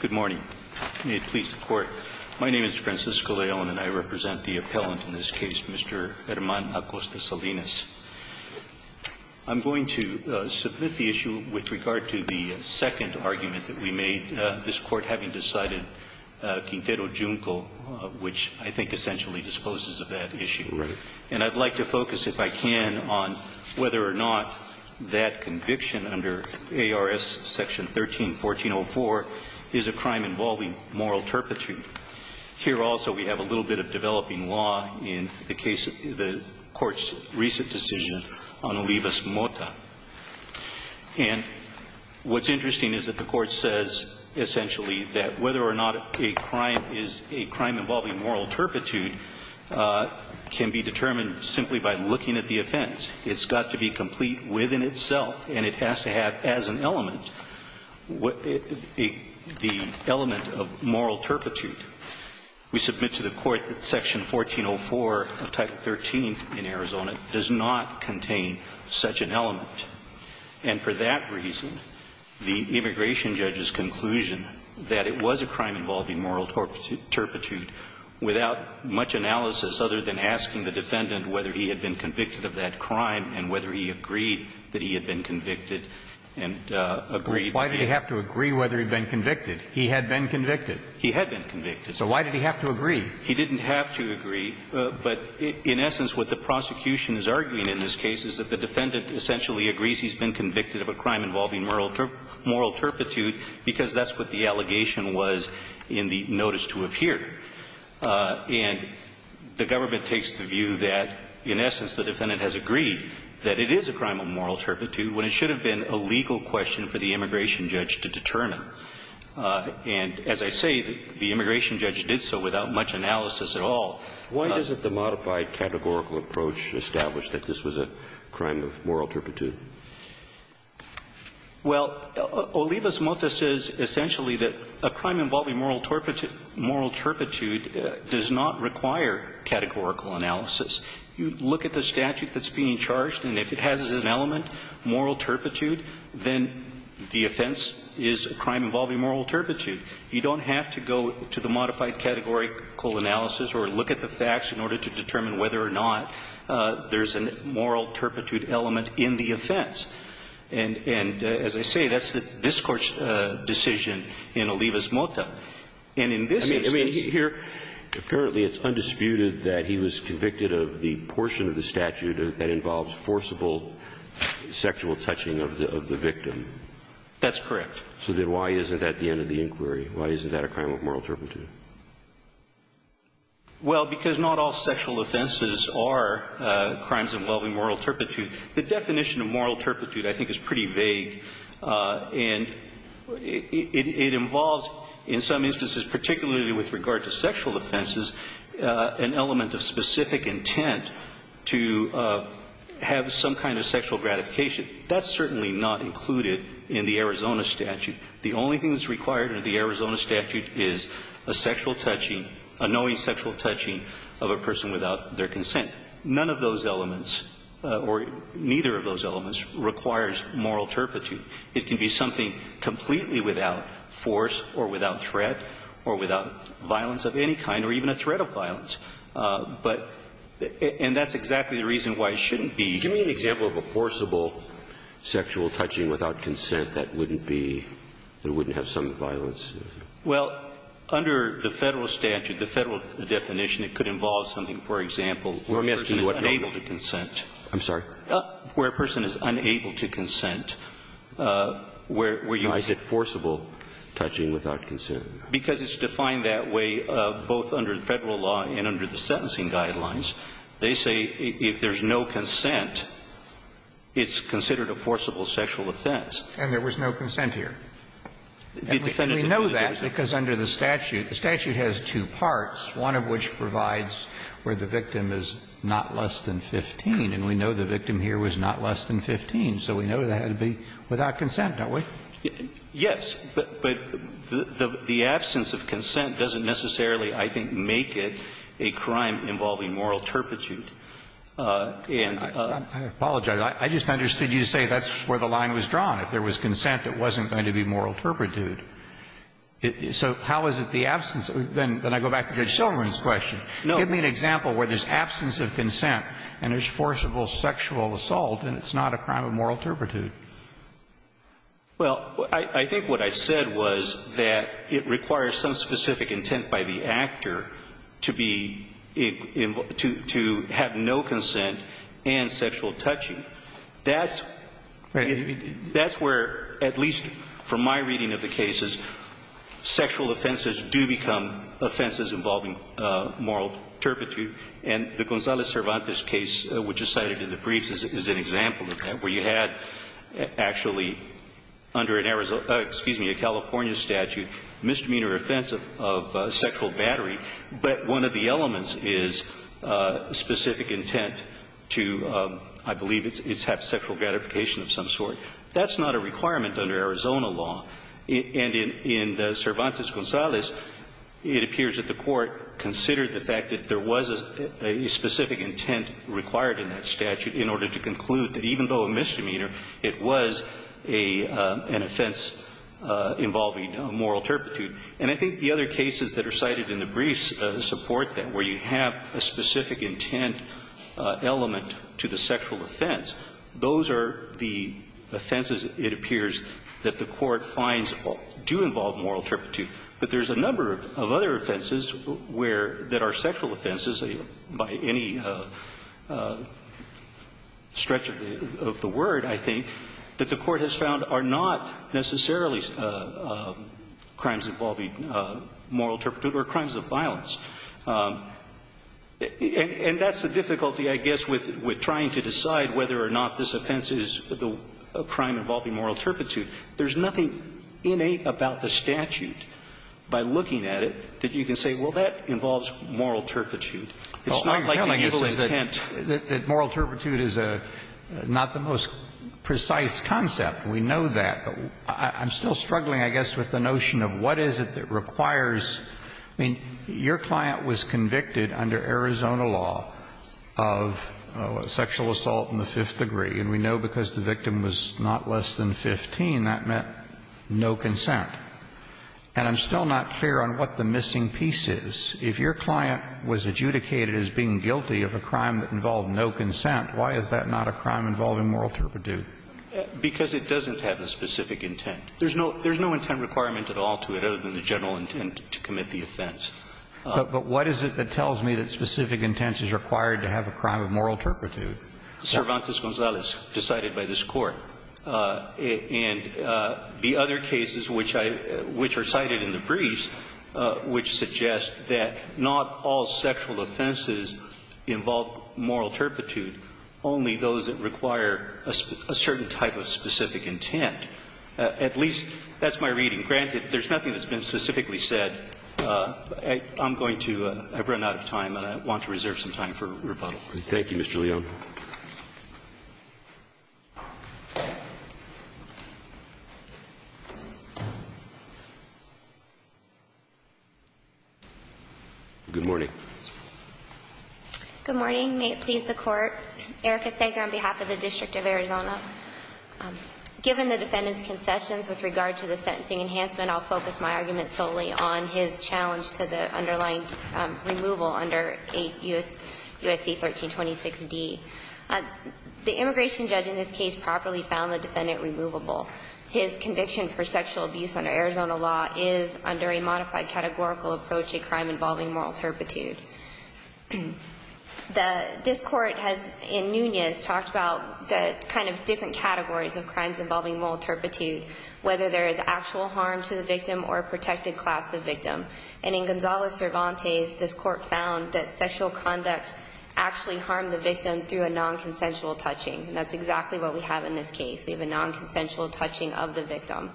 Good morning. May it please the Court, my name is Francisco León and I represent the appellant in this case, Mr. Herman Acosta-Salinas. I'm going to submit the issue with regard to the second argument that we made, this Court having decided Quintero-Junco, which I think essentially disposes of that issue. Right. And I'd like to focus, if I can, on whether or not that conviction under ARS Section 13-1404 is a crime involving moral turpitude. Here also we have a little bit of developing law in the case of the Court's recent decision on Olivas-Mota. And what's interesting is that the Court says essentially that whether or not a crime is a crime involving moral turpitude can be determined simply by looking at the offense. It's got to be complete within itself and it has to have, as an element, the element of moral turpitude. We submit to the Court that Section 1404 of Title 13 in Arizona does not contain such an element. And for that reason, the immigration judge's conclusion that it was a crime involving moral turpitude, without much analysis other than asking the defendant whether he had been convicted of that crime and whether he agreed that he had been convicted and agreed. Why did he have to agree whether he'd been convicted? He had been convicted. He had been convicted. So why did he have to agree? He didn't have to agree. But in essence, what the prosecution is arguing in this case is that the defendant essentially agrees he's been convicted of a crime involving moral turpitude because that's what the allegation was in the notice to appear. And the government takes the view that, in essence, the defendant has agreed that it is a crime of moral turpitude when it should have been a legal question for the immigration judge to determine. And as I say, the immigration judge did so without much analysis at all. Why does the modified categorical approach establish that this was a crime of moral turpitude? Well, Olivas-Mota says essentially that a crime involving moral turpitude does not require categorical analysis. You look at the statute that's being charged, and if it has as an element moral turpitude, then the offense is a crime involving moral turpitude. You don't have to go to the modified categorical analysis or look at the facts in order to determine whether or not there's a moral turpitude element in the offense. And as I say, that's the discourse decision in Olivas-Mota. And in this instance here ---- Roberts, apparently it's undisputed that he was convicted of the portion of the statute that involves forcible sexual touching of the victim. That's correct. So then why isn't that the end of the inquiry? Why isn't that a crime of moral turpitude? Well, because not all sexual offenses are crimes involving moral turpitude. The definition of moral turpitude, I think, is pretty vague. And it involves in some instances, particularly with regard to sexual offenses, an element of specific intent to have some kind of sexual gratification. That's certainly not included in the Arizona statute. The only thing that's required in the Arizona statute is a sexual touching, a knowing sexual touching of a person without their consent. And none of those elements, or neither of those elements, requires moral turpitude. It can be something completely without force or without threat or without violence of any kind or even a threat of violence. But ---- and that's exactly the reason why it shouldn't be. Give me an example of a forcible sexual touching without consent that wouldn't be ---- that wouldn't have some violence. Well, under the Federal statute, the Federal definition, it could involve something. For example, where a person is unable to consent. I'm sorry? Where a person is unable to consent, where you ---- Why is it forcible touching without consent? Because it's defined that way both under the Federal law and under the sentencing guidelines. They say if there's no consent, it's considered a forcible sexual offense. And there was no consent here. And we know that because under the statute, the statute has two parts, one of which provides where the victim is not less than 15, and we know the victim here was not less than 15. So we know that it had to be without consent, don't we? Yes, but the absence of consent doesn't necessarily, I think, make it a crime involving moral turpitude. And ---- I apologize. I just understood you to say that's where the line was drawn. If there was consent, it wasn't going to be moral turpitude. So how is it the absence of ---- then I go back to Judge Silverman's question. Give me an example where there's absence of consent and there's forcible sexual assault, and it's not a crime of moral turpitude. Well, I think what I said was that it requires some specific intent by the actor to be ---- to have no consent and sexual touching. That's where, at least from my reading of the cases, sexual offenses do become offenses involving moral turpitude. And the Gonzales-Cervantes case which is cited in the briefs is an example of that, where you had actually under an Arizona ---- excuse me, a California statute, misdemeanor offense of sexual battery, but one of the elements is specific intent to, I believe it's have sexual gratification of some sort. That's not a requirement under Arizona law. And in the Cervantes-Gonzales, it appears that the Court considered the fact that there was a specific intent required in that statute in order to conclude that even though a misdemeanor, it was an offense involving moral turpitude. And I think the other cases that are cited in the briefs support that, where you have a specific intent element to the sexual offense. Those are the offenses, it appears, that the Court finds do involve moral turpitude. But there's a number of other offenses where ---- that are sexual offenses, by any stretch of the word, I think, that the Court has found are not necessarily crimes involving moral turpitude or crimes of violence. And that's the difficulty, I guess, with trying to decide whether or not this offense is a crime involving moral turpitude. There's nothing innate about the statute, by looking at it, that you can say, well, that involves moral turpitude. It's not like a misdemeanor offense. Kennedy, that moral turpitude is not the most precise concept. We know that. I'm still struggling, I guess, with the notion of what is it that requires I mean, your client was convicted under Arizona law of sexual assault in the fifth degree, and we know because the victim was not less than 15, that meant no consent. And I'm still not clear on what the missing piece is. If your client was adjudicated as being guilty of a crime that involved no consent, why is that not a crime involving moral turpitude? Because it doesn't have a specific intent. There's no intent requirement at all to it, other than the general intent. And so I don't think it's a crime involving moral turpitude, and I don't think it's involving moral turpitude to commit the offense. But what is it that tells me that specific intent is required to have a crime of moral turpitude? Cervantes-Gonzalez, decided by this Court, and the other cases which I, which are sexual offenses, involve moral turpitude, only those that require a certain type of specific intent. At least, that's my reading. Granted, there's nothing that's been specifically said. I'm going to run out of time, and I want to reserve some time for rebuttal. Thank you, Mr. Leone. Good morning. May it please the Court. Erica Sager on behalf of the District of Arizona. Given the defendant's concessions with regard to the sentencing enhancement, I'll focus my argument solely on his challenge to the underlying removal under USC 1326d. The immigration judge in this case properly found the defendant removable. His conviction for sexual abuse under Arizona law is under a modified categorical approach to a crime involving moral turpitude. This Court has, in Nunez, talked about the kind of different categories of crimes involving moral turpitude, whether there is actual harm to the victim or a protected class of victim. And in Gonzalez-Cervantes, this Court found that sexual conduct actually harmed the victim through a non-consensual touching. That's exactly what we have in this case. We have a non-consensual touching of the victim.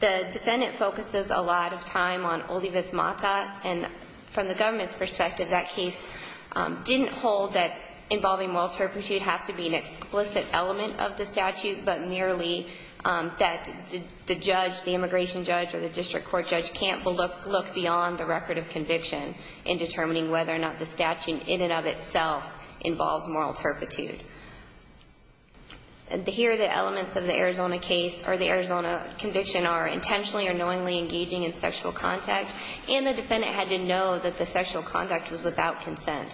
The defendant focuses a lot of time on Olivas-Mata, and from the government's perspective, that case didn't hold that involving moral turpitude has to be an explicit element of the statute, but merely that the judge, the immigration judge or the district court judge can't look beyond the record of conviction in determining whether or not the statute in and of itself involves moral turpitude. Here, the elements of the Arizona case or the Arizona conviction are intentionally or knowingly engaging in sexual contact, and the defendant had to know that the sexual conduct was without consent.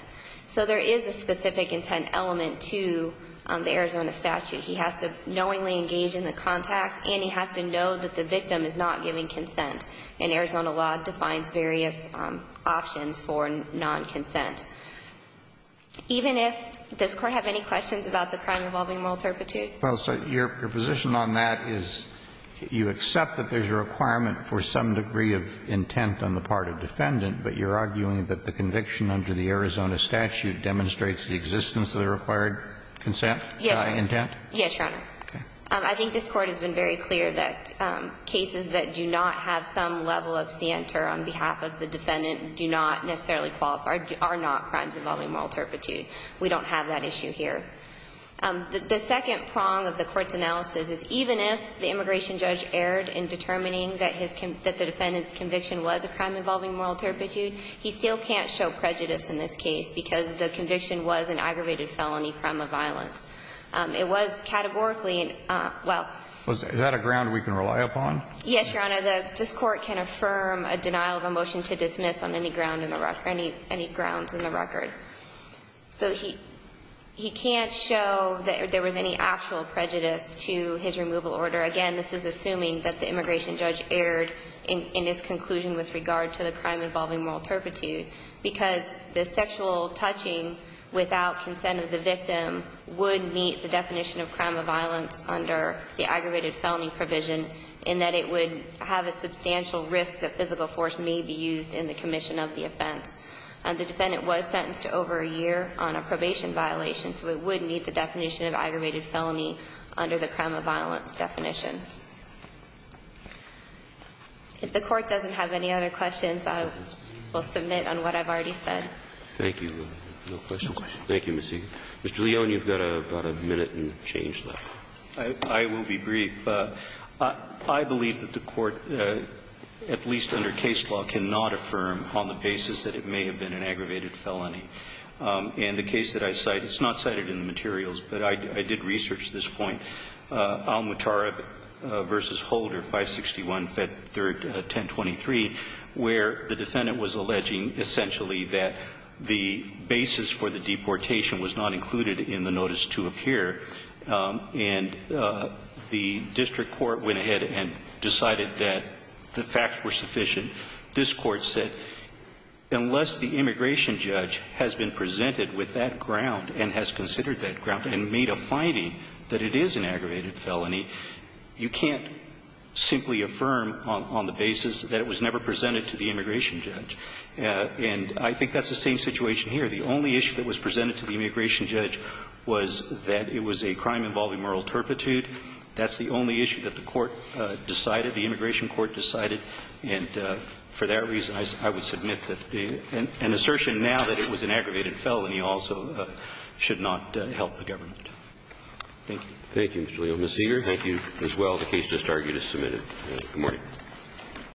So there is a specific intent element to the Arizona statute. He has to knowingly engage in the contact, and he has to know that the victim is not giving consent, and Arizona law defines various options for non-consent. Even if the court has any questions about the crime involving moral turpitude? Well, so your position on that is you accept that there's a requirement for some degree of intent on the part of the defendant, but you're arguing that the conviction under the Arizona statute demonstrates the existence of the required consent intent? Yes, Your Honor. I think this Court has been very clear that cases that do not have some level of scienter on behalf of the defendant do not necessarily qualify or are not crimes involving moral turpitude. We don't have that issue here. The second prong of the Court's analysis is even if the immigration judge erred in determining that his convict the defendant's conviction was a crime involving moral turpitude, he still can't show prejudice in this case because the conviction was an aggravated felony crime of violence. It was categorically, well. Is that a ground we can rely upon? Yes, Your Honor. This Court can affirm a denial of a motion to dismiss on any grounds in the record. So he can't show that there was any actual prejudice to his removal order. Again, this is assuming that the immigration judge erred in his conclusion with regard to the crime involving moral turpitude because the sexual touching without consent of the victim would meet the definition of crime of violence under the aggravated felony provision in that it would have a substantial risk that physical force may be used in the commission of the offense. The defendant was sentenced to over a year on a probation violation, so it would meet the definition of aggravated felony under the crime of violence definition. If the Court doesn't have any other questions, I will submit on what I've already said. Thank you. No questions? Thank you, Ms. Siegel. Mr. Leone, you've got about a minute and change left. I will be brief. I believe that the Court, at least under case law, cannot affirm on the basis that it may have been an aggravated felony. And the case that I cite, it's not cited in the materials, but I did research this point, Almutareb v. Holder, 561, Fed 3rd, 1023, where the defendant was alleging essentially that the basis for the deportation was not included in the notice to appear and the district court went ahead and decided that the facts were sufficient. This Court said, unless the immigration judge has been presented with that ground and has considered that ground and made a finding that it is an aggravated felony, you can't simply affirm on the basis that it was never presented to the immigration judge. And I think that's the same situation here. The only issue that was presented to the immigration judge was that it was a crime involving moral turpitude. That's the only issue that the court decided, the immigration court decided. And for that reason, I would submit that an assertion now that it was an aggravated felony also should not help the government. Thank you. Thank you, Mr. Leone. Ms. Siegel. Thank you as well. The case just argued is submitted. Good morning.